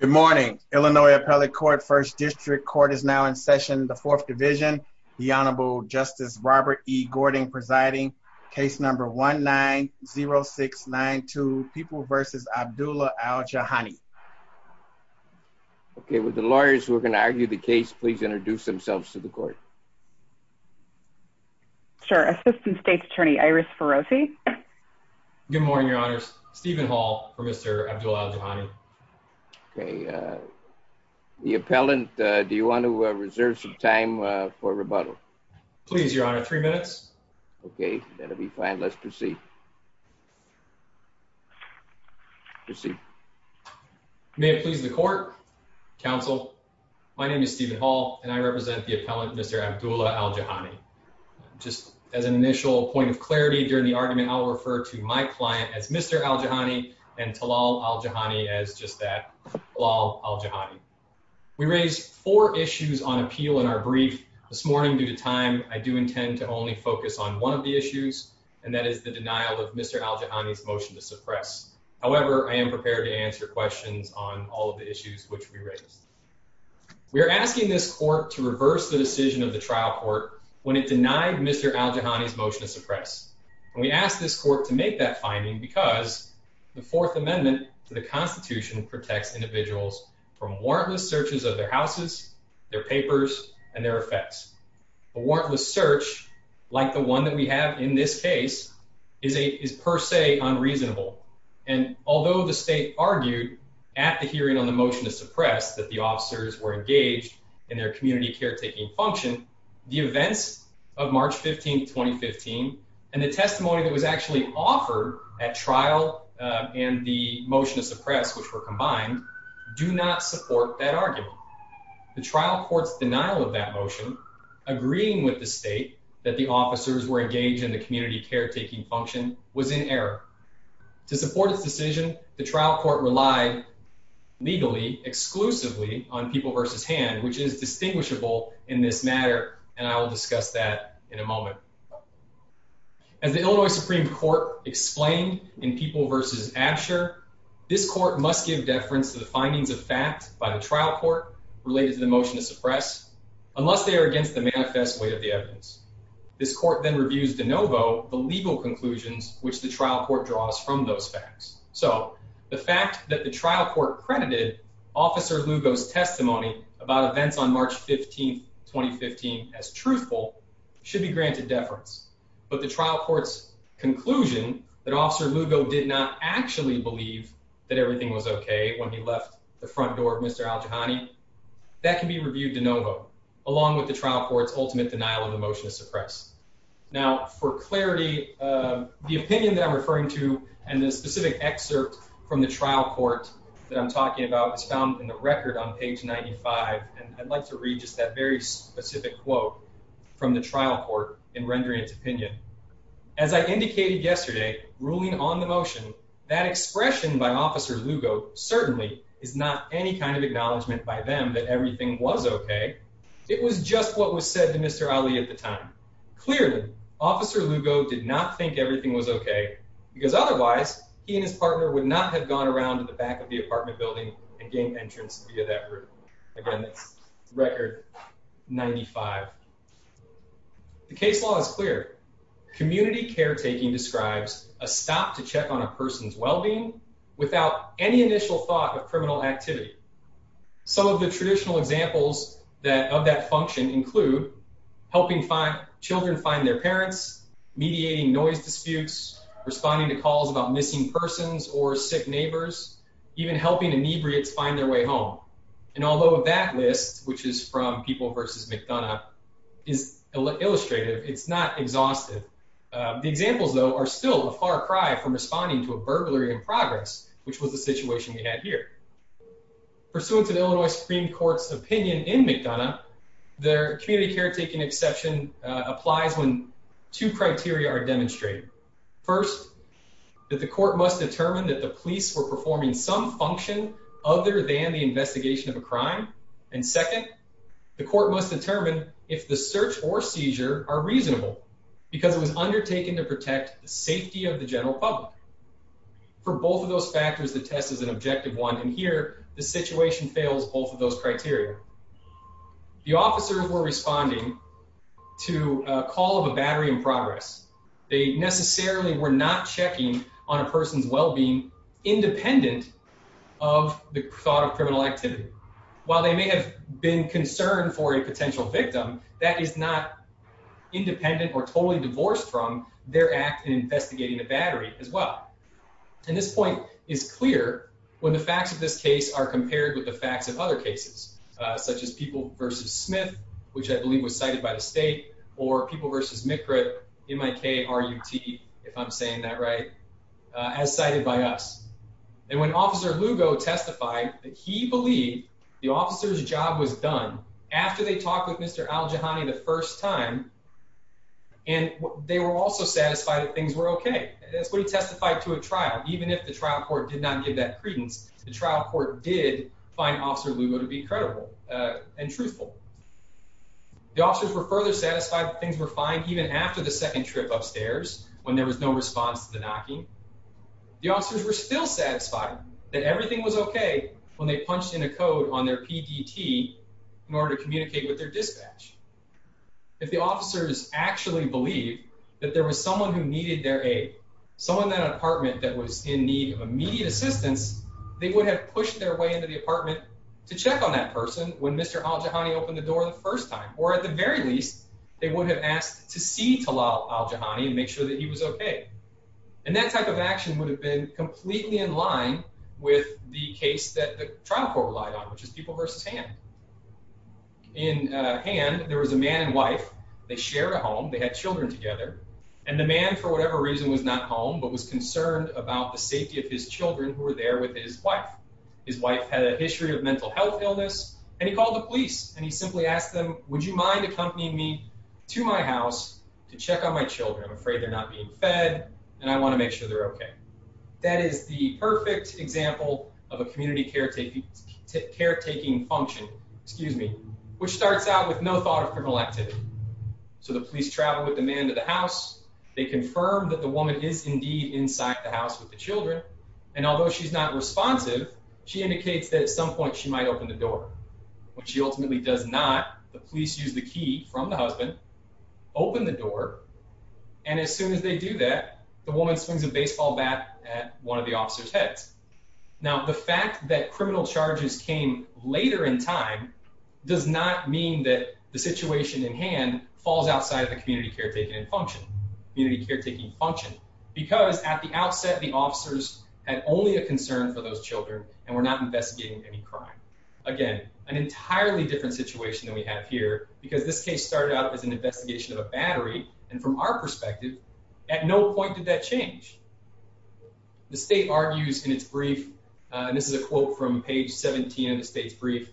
Good morning, Illinois Appellate Court, First District. Court is now in session, the Fourth Division. The Honorable Justice Robert E. Gordon presiding. Case number 1-9-0692, People v. Abdullah Al-Jahani. Okay, would the lawyers who are going to argue the case please introduce themselves to the court? Sure, Assistant State's Attorney Iris Ferrosi. Good morning, Your Honors. Stephen Hall for Mr. Abdullah Al-Jahani. Okay, the appellant, do you want to reserve some time for rebuttal? Please, Your Honor, three minutes. Okay, that'll be fine. Let's proceed. May it please the court, counsel, my name is Stephen Hall and I represent the appellant, Mr. Abdullah Al-Jahani. Just as an initial point of clarity during the argument, I'll refer to my client as Mr. Al-Jahani and Talal Al-Jahani as just that, Talal Al-Jahani. We raised four issues on appeal in our brief this morning. Due to time, I do intend to only focus on one of the issues and that is the denial of Mr. Al-Jahani's motion to suppress. However, I am prepared to answer questions on all of the issues which we raised. We are asking this court to reverse the decision of the trial court when it denied Mr. Al-Jahani's motion to suppress. And we ask this court to make that finding because the Fourth Amendment to the Constitution protects individuals from warrantless searches of their houses, their papers, and their effects. A warrantless search like the one that we have in this case is per se unreasonable. And although the state argued at the hearing on the motion to suppress that the officers were engaged in their community caretaking function, the events of March 15, 2015, and the testimony that was actually offered at trial and the motion to suppress, which were combined, do not support that argument. The trial court's denial of that motion, agreeing with the state that the officers were engaged in the community caretaking function, was in error. To support this decision, the trial court relied legally exclusively on People v. Hand, which is distinguishable in this matter, and I will discuss that in a moment. As the Illinois Supreme Court explained in People v. Asher, this court must give deference to the findings of fact by the trial court related to the motion to suppress unless they are against the manifest weight of the evidence. This court then trial court credited Officer Lugo's testimony about events on March 15, 2015, as truthful, should be granted deference. But the trial court's conclusion that Officer Lugo did not actually believe that everything was okay when he left the front door of Mr. Aljahani, that can be reviewed de novo, along with the trial court's ultimate denial of the motion to suppress. Now, for clarity, the opinion that I'm referring to and the specific excerpt from the trial court that I'm talking about is found in the record on page 95, and I'd like to read just that very specific quote from the trial court in rendering its opinion. As I indicated yesterday, ruling on the motion, that expression by Officer Lugo certainly is not any kind of acknowledgment by them that everything was okay. It was just what was said to Mr. Ali at the time. Clearly, Officer Lugo did not think everything was okay, because otherwise, he and his partner would not have gone around to the back of the apartment building and gained entrance via that room. Again, record 95. The case law is clear. Community caretaking describes a stop to check on a person's examples that of that function include helping children find their parents, mediating noise disputes, responding to calls about missing persons or sick neighbors, even helping inebriates find their way home. And although that list, which is from People versus McDonough, is illustrative, it's not exhaustive. The examples, though, are still a far cry from responding to a burglary in progress, which was the situation we had here. Pursuant to the Illinois Supreme Court's opinion in McDonough, their community caretaking exception applies when two criteria are demonstrated. First, that the court must determine that the police were performing some function other than the investigation of a crime. And second, the court must determine if the search or seizure are reasonable because it was undertaken to protect the safety of the general public. For both of here, the situation fails both of those criteria. The officers were responding to a call of a battery in progress. They necessarily were not checking on a person's well-being independent of the thought of criminal activity. While they may have been concerned for a potential victim, that is not independent or totally divorced from their act in investigating a battery as well. And this point is clear when the facts of this case are compared with the facts of other cases, such as People versus Smith, which I believe was cited by the state, or People versus McRip, M-I-K-R-U-T, if I'm saying that right, as cited by us. And when Officer Lugo testified that he believed the officer's job was done after they talked with Mr. Aljahani the first time, and they were also satisfied that things were okay. That's what he testified to a trial. Even if the trial court did not give that credence, the trial court did find Officer Lugo to be credible and truthful. The officers were further satisfied that things were fine even after the second trip upstairs when there was no response to the knocking. The officers were still satisfied that everything was okay when they punched in a code on their PDT in order to communicate with their dispatch. If the officers actually believed that there was someone who needed their aid, someone in an apartment that was in need of immediate assistance, they would have pushed their way into the apartment to check on that person when Mr. Aljahani opened the door the first time. Or at the very least, they would have asked to see Talal Aljahani and make sure that he was okay. And that type of action would have been completely in line with the case that trial court relied on, which is people versus hand. In hand, there was a man and wife. They shared a home. They had children together. And the man, for whatever reason, was not home but was concerned about the safety of his children who were there with his wife. His wife had a history of mental health illness, and he called the police, and he simply asked them, would you mind accompanying me to my house to check on my children? I'm afraid they're not being fed, and I want to make sure they're okay. That is the perfect example of a community caretaking function, which starts out with no thought of criminal activity. So the police travel with the man to the house. They confirm that the woman is indeed inside the house with the children, and although she's not responsive, she indicates that at some point she might open the door. When she ultimately does not, the police use the key from the husband, open the door, and as soon as they do that, the woman swings a baseball bat at one of the officer's heads. Now, the fact that criminal charges came later in time does not mean that the situation in hand falls outside of the community caretaking function because at the outset, the officers had only a concern for those children and were not investigating any crime. Again, an entirely different situation than we have here because this case started out as an investigation of a battery, and from our perspective, at no point did that change. The state argues in its brief, and this is a quote from page 17 of the state's brief,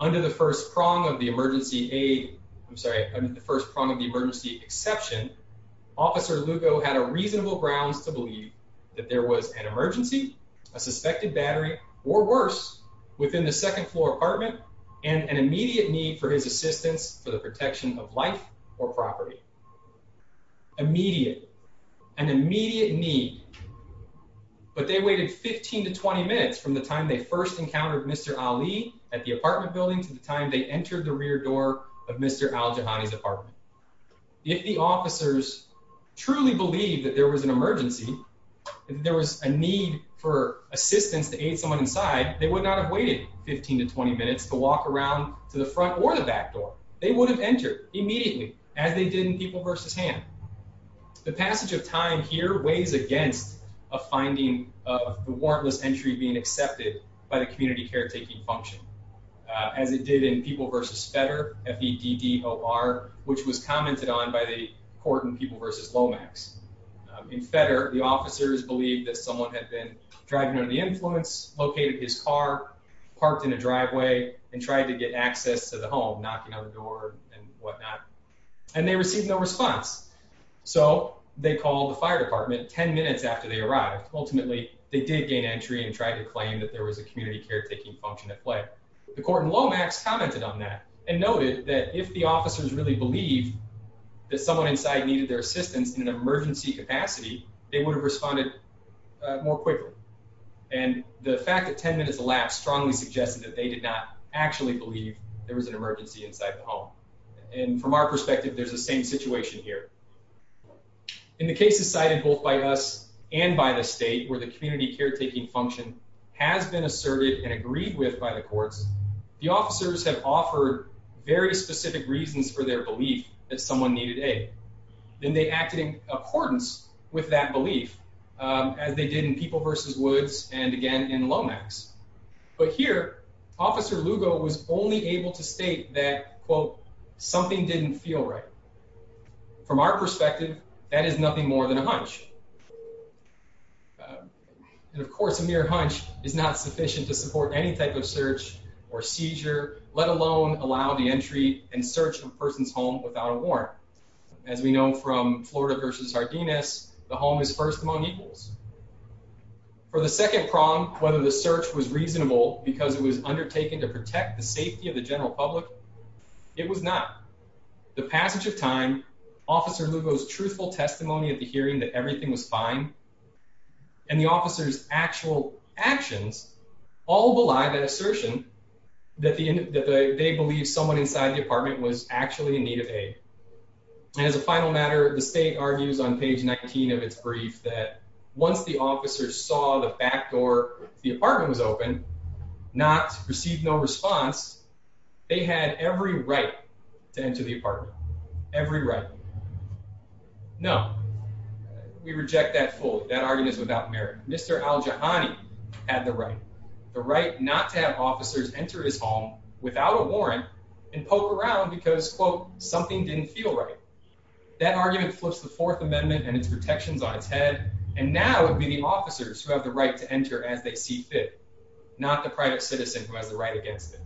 under the first prong of the emergency aid, I'm sorry, under the first prong of the emergency exception, Officer Lugo had a reasonable grounds to believe that there was an emergency, a suspected battery, or worse, within the second floor apartment, and an immediate need for his assistance for the property. Immediate, an immediate need, but they waited 15 to 20 minutes from the time they first encountered Mr. Ali at the apartment building to the time they entered the rear door of Mr. Al-Jahani's apartment. If the officers truly believed that there was an emergency, if there was a need for assistance to aid someone inside, they would not have waited 15 to 20 minutes to walk around to the front or the back door. They would have entered immediately, as they did in People versus Hand. The passage of time here weighs against a finding of the warrantless entry being accepted by the community caretaking function, as it did in People versus Fedder, F-E-D-D-O-R, which was commented on by the court in People versus Lomax. In Fedder, the officers believed that someone had been driving under the influence, located his car, parked in a driveway, and tried to get access to the home, knocking on the door and whatnot, and they received no response. So, they called the fire department 10 minutes after they arrived. Ultimately, they did gain entry and tried to claim that there was a community caretaking function at play. The court in Lomax commented on that and noted that if the officers really believed that someone inside needed their assistance in an emergency capacity, they would have responded more quickly. And the fact that 10 minutes elapsed strongly suggested that they did not actually believe there was an emergency inside the home. And from our perspective, there's the same situation here. In the cases cited both by us and by the state where the community caretaking function has been asserted and agreed with by the courts, the officers have offered very specific reasons for their belief that someone needed aid. Then they acted in accordance with that belief, as they did in People versus Woods and again in Lomax. But here, Officer Lugo was only able to state that, quote, something didn't feel right. From our perspective, that is nothing more than a hunch. And of course, a mere hunch is not sufficient to support any type of search or seizure, let alone allow the entry and search of a person's home without a warrant. As we know from Florida versus Sardinas, the home is first among equals. For the second prong, whether the search was reasonable because it was undertaken to protect the safety of the general public, it was not. The passage of time, Officer Lugo's truthful testimony at the hearing that everything was fine, and the officer's actual actions, all belie that assertion that they believe someone inside the apartment was actually in need of aid. And as a final matter, the state argues on page 19 of its brief that once the officers saw the back door of the apartment was open, received no response, they had every right to enter the apartment. Every right. No, we reject that fully. That argument is Mr. Aljahani had the right, the right not to have officers enter his home without a warrant and poke around because, quote, something didn't feel right. That argument flips the Fourth Amendment and its protections on its head. And now it would be the officers who have the right to enter as they see fit, not the private citizen who has the right against it.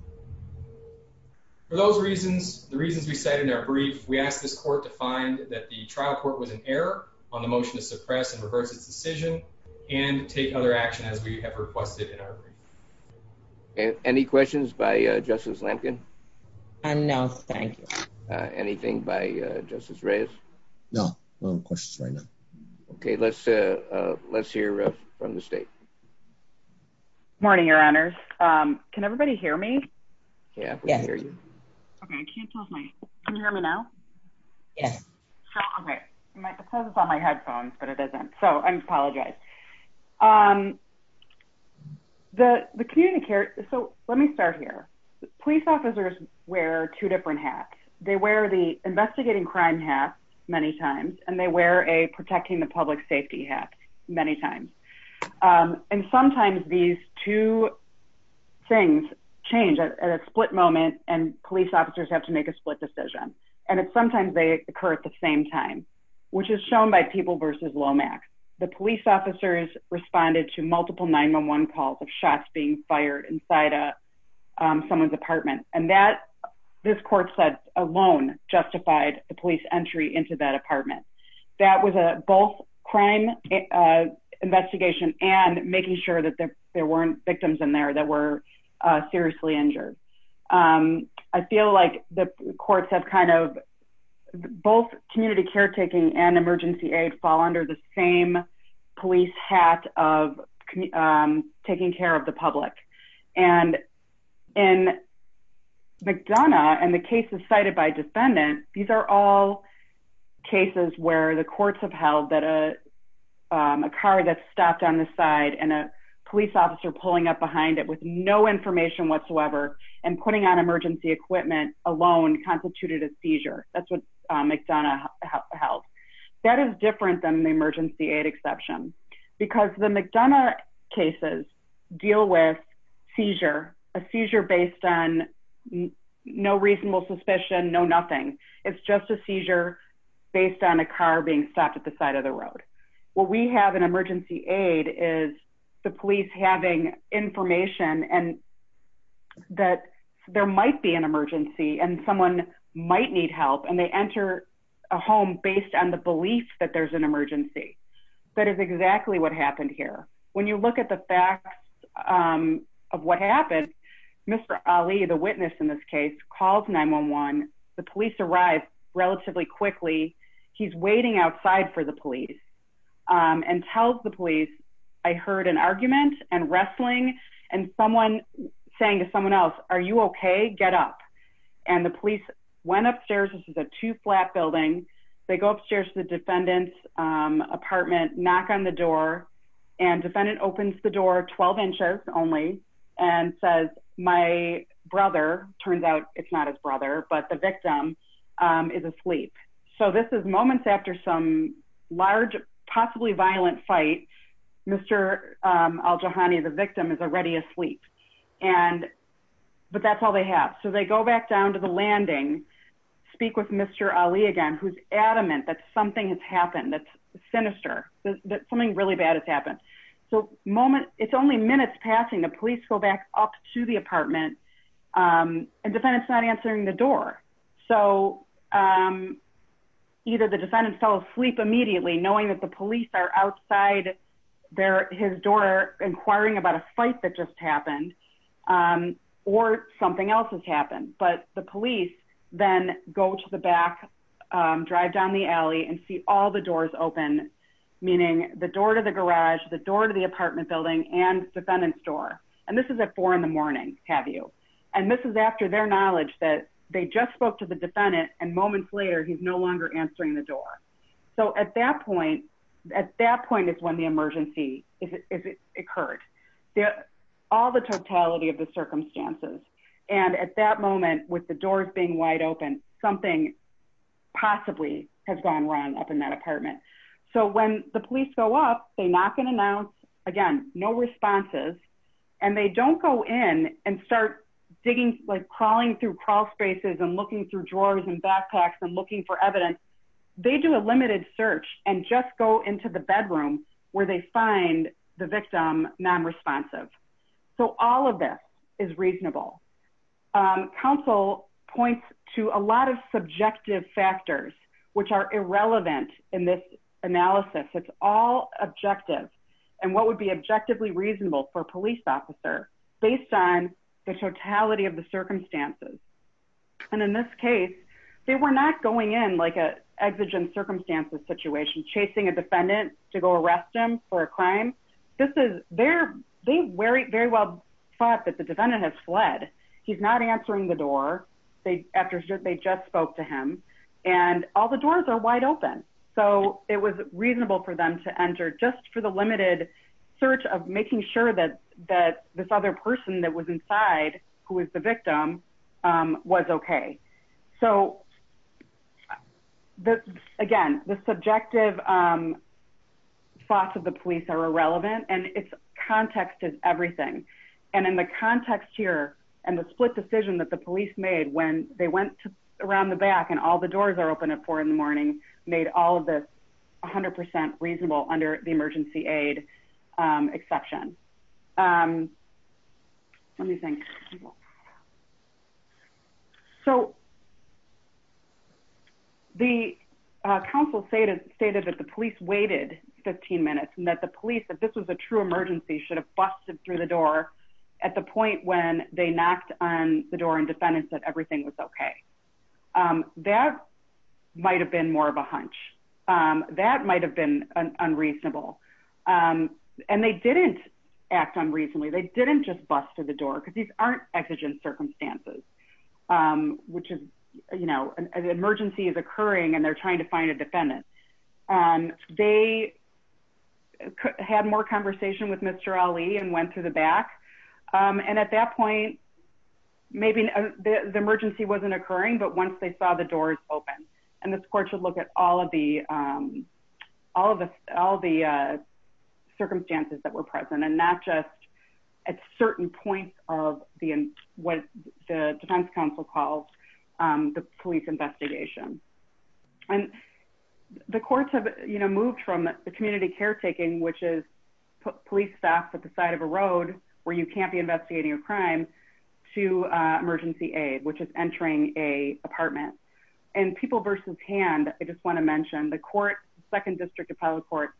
For those reasons, the reasons we said in our brief, we asked this court to find that the trial court was in error on the motion to and take other action as we have requested in our brief. Any questions by Justice Lincoln? No, thank you. Anything by Justice Reyes? No questions right now. Okay, let's hear from the state. Morning, Your Honors. Can everybody hear me? Yeah, we can hear you. Okay, I can't tell if you can hear me. The community care, so let me start here. Police officers wear two different hats. They wear the investigating crime hat many times, and they wear a protecting the public safety hat many times. And sometimes these two things change at a split moment, and police officers have to make a split decision. And it's sometimes they occur at the same time, which is responded to multiple 911 calls of shots being fired inside of someone's apartment. And that this court said alone justified the police entry into that apartment. That was a both crime investigation and making sure that there weren't victims in there that were seriously injured. I feel like the courts have kind of both community caretaking and emergency aid fall under the same police hat of taking care of the public. And in McDonough, and the cases cited by defendant, these are all cases where the courts have held that a car that stopped on the side and a police officer pulling up behind it with no information whatsoever, and putting on emergency equipment alone constituted a seizure. That's what McDonough held. That is different than the emergency aid exception, because the McDonough cases deal with seizure, a seizure based on no reasonable suspicion, no nothing. It's just a seizure based on a car being stopped at the side of the road. What we have an emergency aid is the police having information and that there might be an emergency and someone might need help and they enter a home based on the belief that there's an emergency. That is exactly what happened here. When you look at the facts of what happened, Mr. Ali, the witness in this case called 911. The police arrived relatively quickly. He's waiting outside for the police and tells the police, I heard an argument and wrestling and someone saying to someone else, are you okay? Get up. And the police went upstairs. This is a two flat building. They go upstairs to the defendant's apartment, knock on the door, and defendant opens the door 12 inches only and says, my brother, turns out it's not his brother, but the victim is asleep. So this is moments after some large, possibly violent fight. Mr. Aljahani, the victim is already asleep. But that's all they have. So they go back down to the landing, speak with Mr. Ali again, who's adamant that something has happened that's sinister, that something really bad has happened. So moment, it's only minutes passing, the police go back up to the apartment and defendants not answering the door. So either the defendant fell asleep immediately knowing that the police are outside there, his door inquiring about a fight that just happened or something else has happened. But the police then go to the back, drive down the alley and see all the doors open, meaning the door to the garage, the door to the apartment building and defendant's door. And this is at four in the morning, have you? And this is after their knowledge that they just spoke to the defendant and moments later, he's no longer answering the door. So at that point, at that point is when the emergency occurred. All the totality of the circumstances. And at that moment, with the doors being wide open, something possibly has gone wrong up in that apartment. So when the police go up, they knock and announce again, no responses. And they don't go in and start digging, like crawling through crawl spaces and looking through drawers and backpacks and looking for evidence. They do a limited search and just go into the bedroom where they find the victim non-responsive. So all of this is reasonable. Council points to a lot of subjective factors, which are irrelevant in this analysis. It's all objective. And what would be objectively reasonable for a police officer based on the totality of the circumstances. And in this case, they were not going in like a exigent circumstances situation, chasing a defendant to go arrest him for a crime. This is very, very well thought that the defendant has fled. He's not answering the door. They after they just spoke to him and all the doors are wide open. So it was reasonable for them to enter just for the limited search of making sure that that this other person that was inside who is the victim was okay. So again, the subjective thoughts of the police are irrelevant and its context is everything. And in the context here and the split decision that the police made when they went around the back and all the doors are open at four in the morning made all of this 100% reasonable under the emergency aid exception. Let me think. So the council stated that the police waited 15 minutes and that the police that this was a true emergency should have busted through the door at the point when they knocked on the door and defendants that everything was okay. Um, that might have been more of a hunch. Um, that might have been unreasonable. Um, and they didn't act on recently. They didn't just bust to the door because these aren't exigent circumstances. Um, which is, you know, an emergency is occurring and they're trying to find a defendant. Um, they had more conversation with Mr Ali and went to the back. Um, and at that point, maybe the emergency wasn't occurring, but once they saw the doors open and this court should look at all of the, um, all of us, all the, uh, circumstances that were present and not just at certain points of the, what the defense council calls, um, the police investigation. And the courts have moved from the community caretaking, which is police staff at the side of a road where you can't be investigating a crime to, uh, emergency aid, which is entering a apartment and people versus hand. I just want to mention the court, second district appellate court.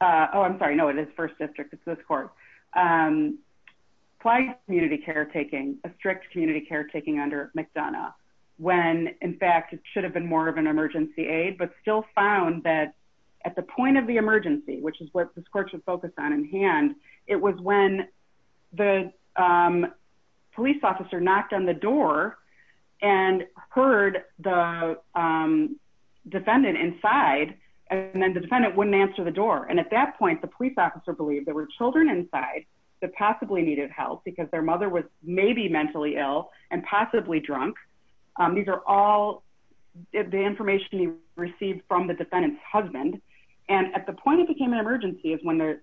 Uh, Oh, I'm sorry. No, it is first district. It's this court, um, community caretaking, a strict community caretaking under McDonough, when in fact it should have been more of an emergency aid, but still found that at the point of the emergency, which is what this court should focus on in hand. It was when the, um, police officer knocked on the door and heard the, um, defendant inside. And then the defendant wouldn't answer the door. And at that point, the police officer believed there were children inside that possibly needed help because their mother was maybe mentally ill and possibly drunk. Um, these are all the information you received from the defendant's husband. And at the point it became an emergency is when the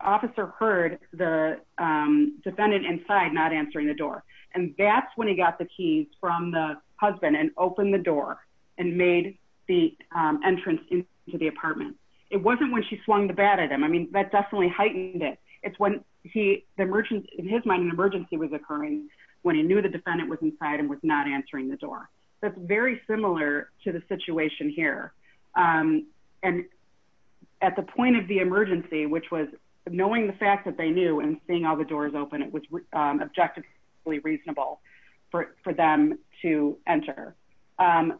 officer heard the, um, defendant inside, not answering the door. And that's when he got the keys from the husband and opened the door and made the, um, entrance into the apartment. It wasn't when she swung the bat at him. I mean, that definitely heightened it. It's when he, the merchant in his mind, an emergency was occurring when he knew the defendant was inside and was not answering the door. That's very similar to the situation here. Um, and at the point of the emergency, which was knowing the fact that they knew and seeing all the doors open, it was objectively reasonable for them to enter. Um,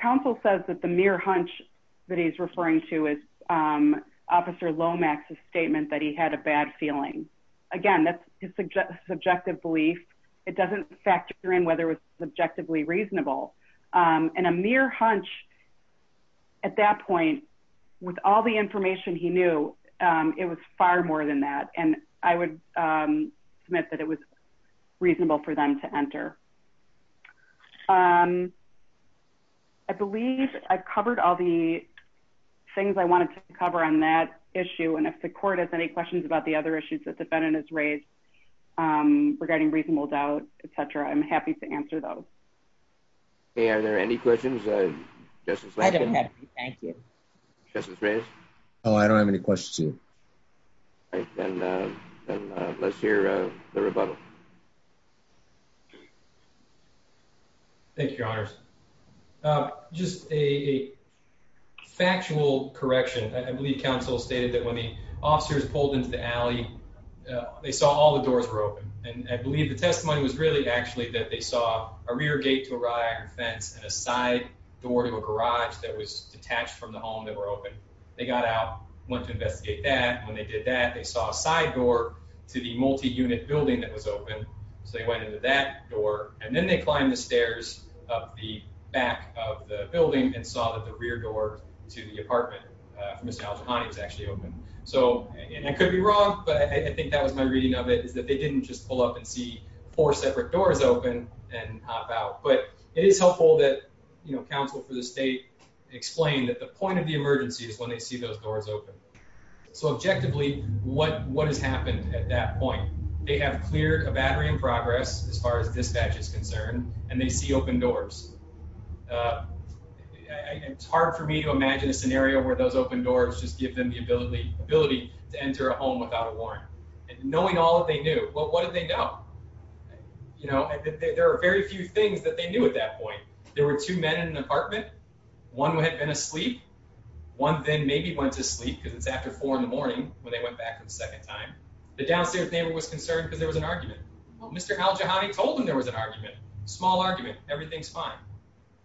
counsel says that the mere hunch that he's referring to is, um, officer Lomax's statement that he had a bad feeling. Again, that's subjective belief. It doesn't factor in whether it was objectively reasonable. Um, and a mere hunch at that point with all the information he knew, um, it was far more than that. And I would, um, submit that it was reasonable for them to enter. Um, I believe I've covered all the things I wanted to cover on that issue. And if the court has any questions about the other issues that defendant is raised, um, regarding reasonable doubt, et cetera, I'm happy to answer those. Hey, are there any questions? Uh, I don't have any. Thank you. Justice raised. Oh, I don't have any questions. Then, uh, let's hear the rebuttal. Thank you, Your Honor. Uh, just a factual correction. I believe counsel stated that the officers pulled into the alley. They saw all the doors were open, and I believe the testimony was really actually that they saw a rear gate to arrive fence and a side door to a garage that was detached from the home that were open. They got out, went to investigate that. When they did that, they saw a side door to the multi unit building that was open. So they went into that door, and then they climbed the stairs of the back of the building and saw that the rear door to the So I could be wrong, but I think that was my reading of it is that they didn't just pull up and see four separate doors open and hop out. But it is helpful that, you know, counsel for the state explained that the point of the emergency is when they see those doors open. So objectively, what? What has happened at that point? They have cleared a battery in progress as far as dispatch is concerned, and they see open doors. Uh, it's hard for me to imagine a doors. Just give them the ability ability to enter a home without a warrant and knowing all that they knew. Well, what did they know? You know, there are very few things that they knew. At that point, there were two men in an apartment. One had been asleep. One thing maybe went to sleep because it's after four in the morning when they went back for the second time. The downstairs neighbor was concerned because there was an argument. Mr Al Jahani told him there was an argument. Small argument. Everything's fine.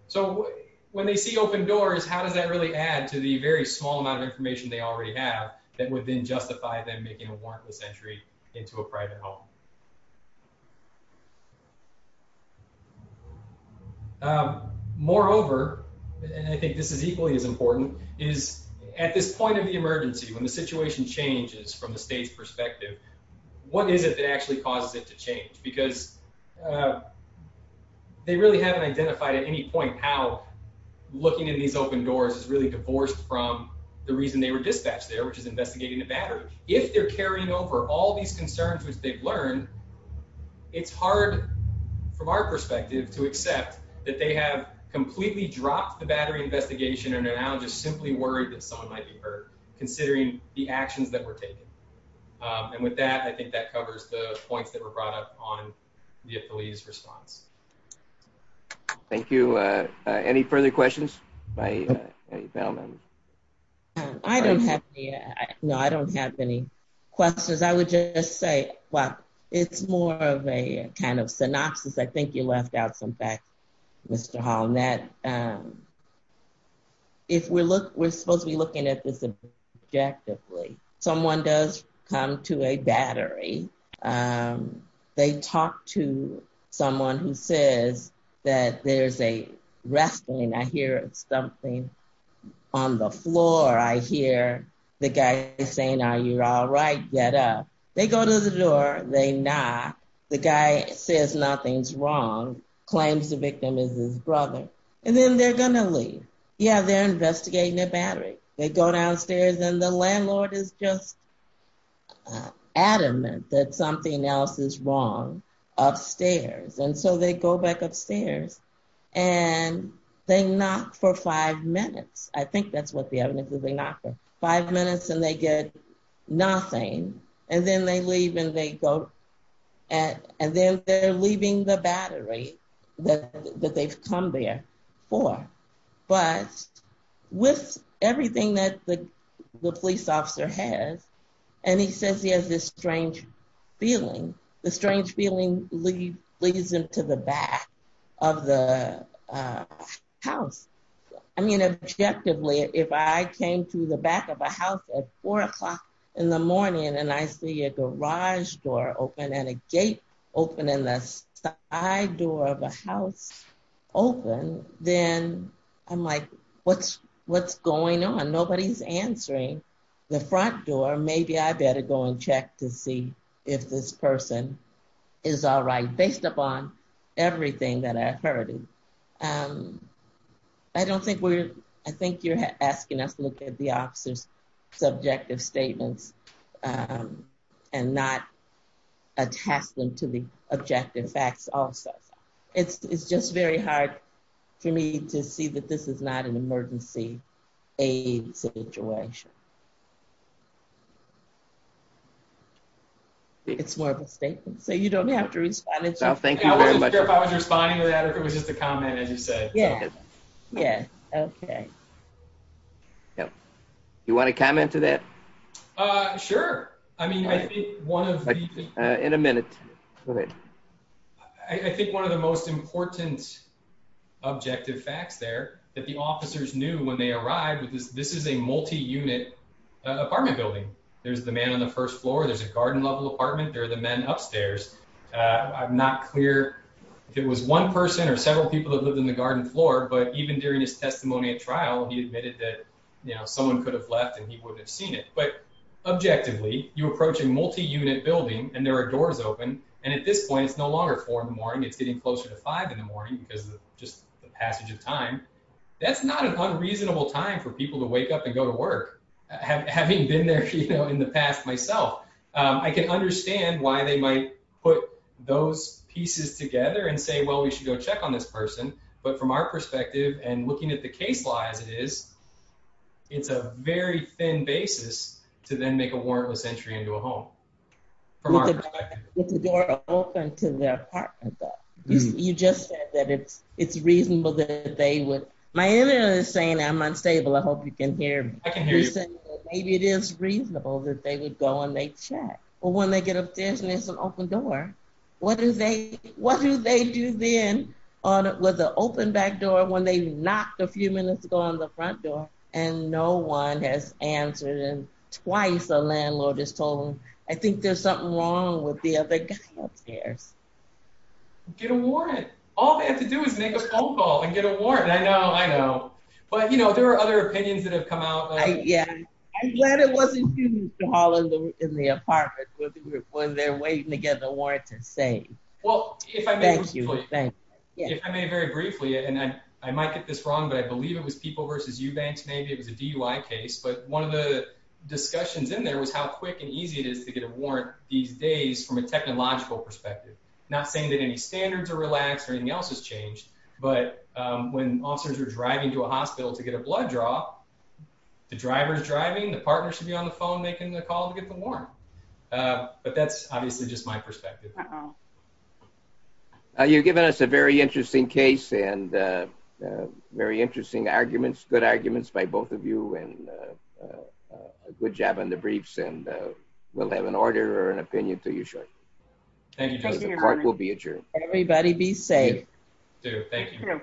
So when they see open doors, how does that really add to the very small amount of information they already have that would then justify them making a warrantless entry into a private home? Um, moreover, I think this is equally as important is at this point of the emergency. When the situation changes from the state's perspective, what is it that actually causes it to change? Because, uh, they really haven't identified at any point how looking in these open doors is really divorced from the reason they were dispatched there, which is investigating the battery. If they're carrying over all these concerns, which they've learned, it's hard from our perspective to accept that they have completely dropped the battery investigation and now just simply worried that someone might be hurt considering the actions that were taken. Um, and with that, I think that covers the police response. Thank you. Uh, any further questions? I don't have. No, I don't have any questions. I would just say, well, it's more of a kind of synopsis. I think you left out some facts, Mr Hall. And that, um, if we look, we're supposed to be looking at this objectively. Someone does come to a battery. Um, they talk to someone who says that there's a wrestling. I hear something on the floor. I hear the guy saying, are you all right? Get up. They go to the door. They knock. The guy says, nothing's wrong. Claims the victim is his brother. And then they're going to leave. Yeah. They're investigating their battery. They go downstairs and the landlord is just adamant that something else is wrong upstairs. And so they go back upstairs and they knock for five minutes. I think that's what the evidence is. They knock for five minutes and they get nothing. And then they leave and they go at, and then they're leaving the battery that they've come there for. But with everything that the police officer has, and he says, he has this strange feeling. The strange feeling leads him to the back of the house. I mean, objectively, if I came to the back of a house at four o'clock in the morning and I see a garage door open and a door of a house open, then I'm like, what's going on? Nobody's answering the front door. Maybe I better go and check to see if this person is all right, based upon everything that I've heard. I don't think we're, I think you're asking us to look at the officer's subjective statements and not attach them to the objective facts also. It's just very hard for me to see that this is not an emergency aid situation. It's more of a statement, so you don't have to respond. I was just curious if I was responding to that or if it was just a comment, as you said. Yeah. Okay. You want to comment to that? Sure. I mean, I think one of the... In a minute. I think one of the most important objective facts there that the officers knew when they arrived, this is a multi-unit apartment building. There's the man on the first floor. There's a garden level apartment. There are the men upstairs. I'm not clear if it was one person or several people that lived in the garden floor, but even during his testimony at trial, he admitted that someone could have left and he wouldn't have seen it. But objectively, you approach a multi-unit building and there are doors open. And at this point, it's no longer four in the morning. It's getting closer to five in the morning because of just the passage of time. That's not an unreasonable time for people to wake up and go to work. Having been there in the past myself, I can understand why they might put those pieces together and say, well, we should go check on this person. But from our perspective and looking at the case law as it is, it's a very thin basis to then make a warrantless entry into a home. From our perspective. It's a door open to the apartment though. You just said that it's reasonable that they would... My email is saying I'm unstable. I hope you can hear me. I can hear you. Maybe it is reasonable that they would go and they check. But when they get upstairs and there's an open door, what do they do then with the open back door when they knock a few minutes ago on the front door and no one has answered and twice a landlord has told them, I think there's something wrong with the other guy upstairs. Get a warrant. All they have to do is make a phone call and get a warrant. I know, I know. But there are other opinions that have come out. Yeah. I'm glad it wasn't you calling in the apartment when they're waiting to get the warrant to say. Well, if I may very briefly, and I might get this wrong, but I believe it was people versus you banks. Maybe it was a DUI case, but one of the discussions in there was how quick and easy it is to get a warrant these days from a technological perspective. Not saying that any standards are relaxed or anything else has changed, but when officers are driving to a hospital to get a blood draw, the driver's driving, the partner should be on the phone making the call to get a warrant. But that's obviously just my perspective. You've given us a very interesting case and very interesting arguments, good arguments by both of you and a good job on the briefs and we'll have an order or an opinion to you shortly. Thank you. The court will be adjourned. Everybody be safe. Thank you.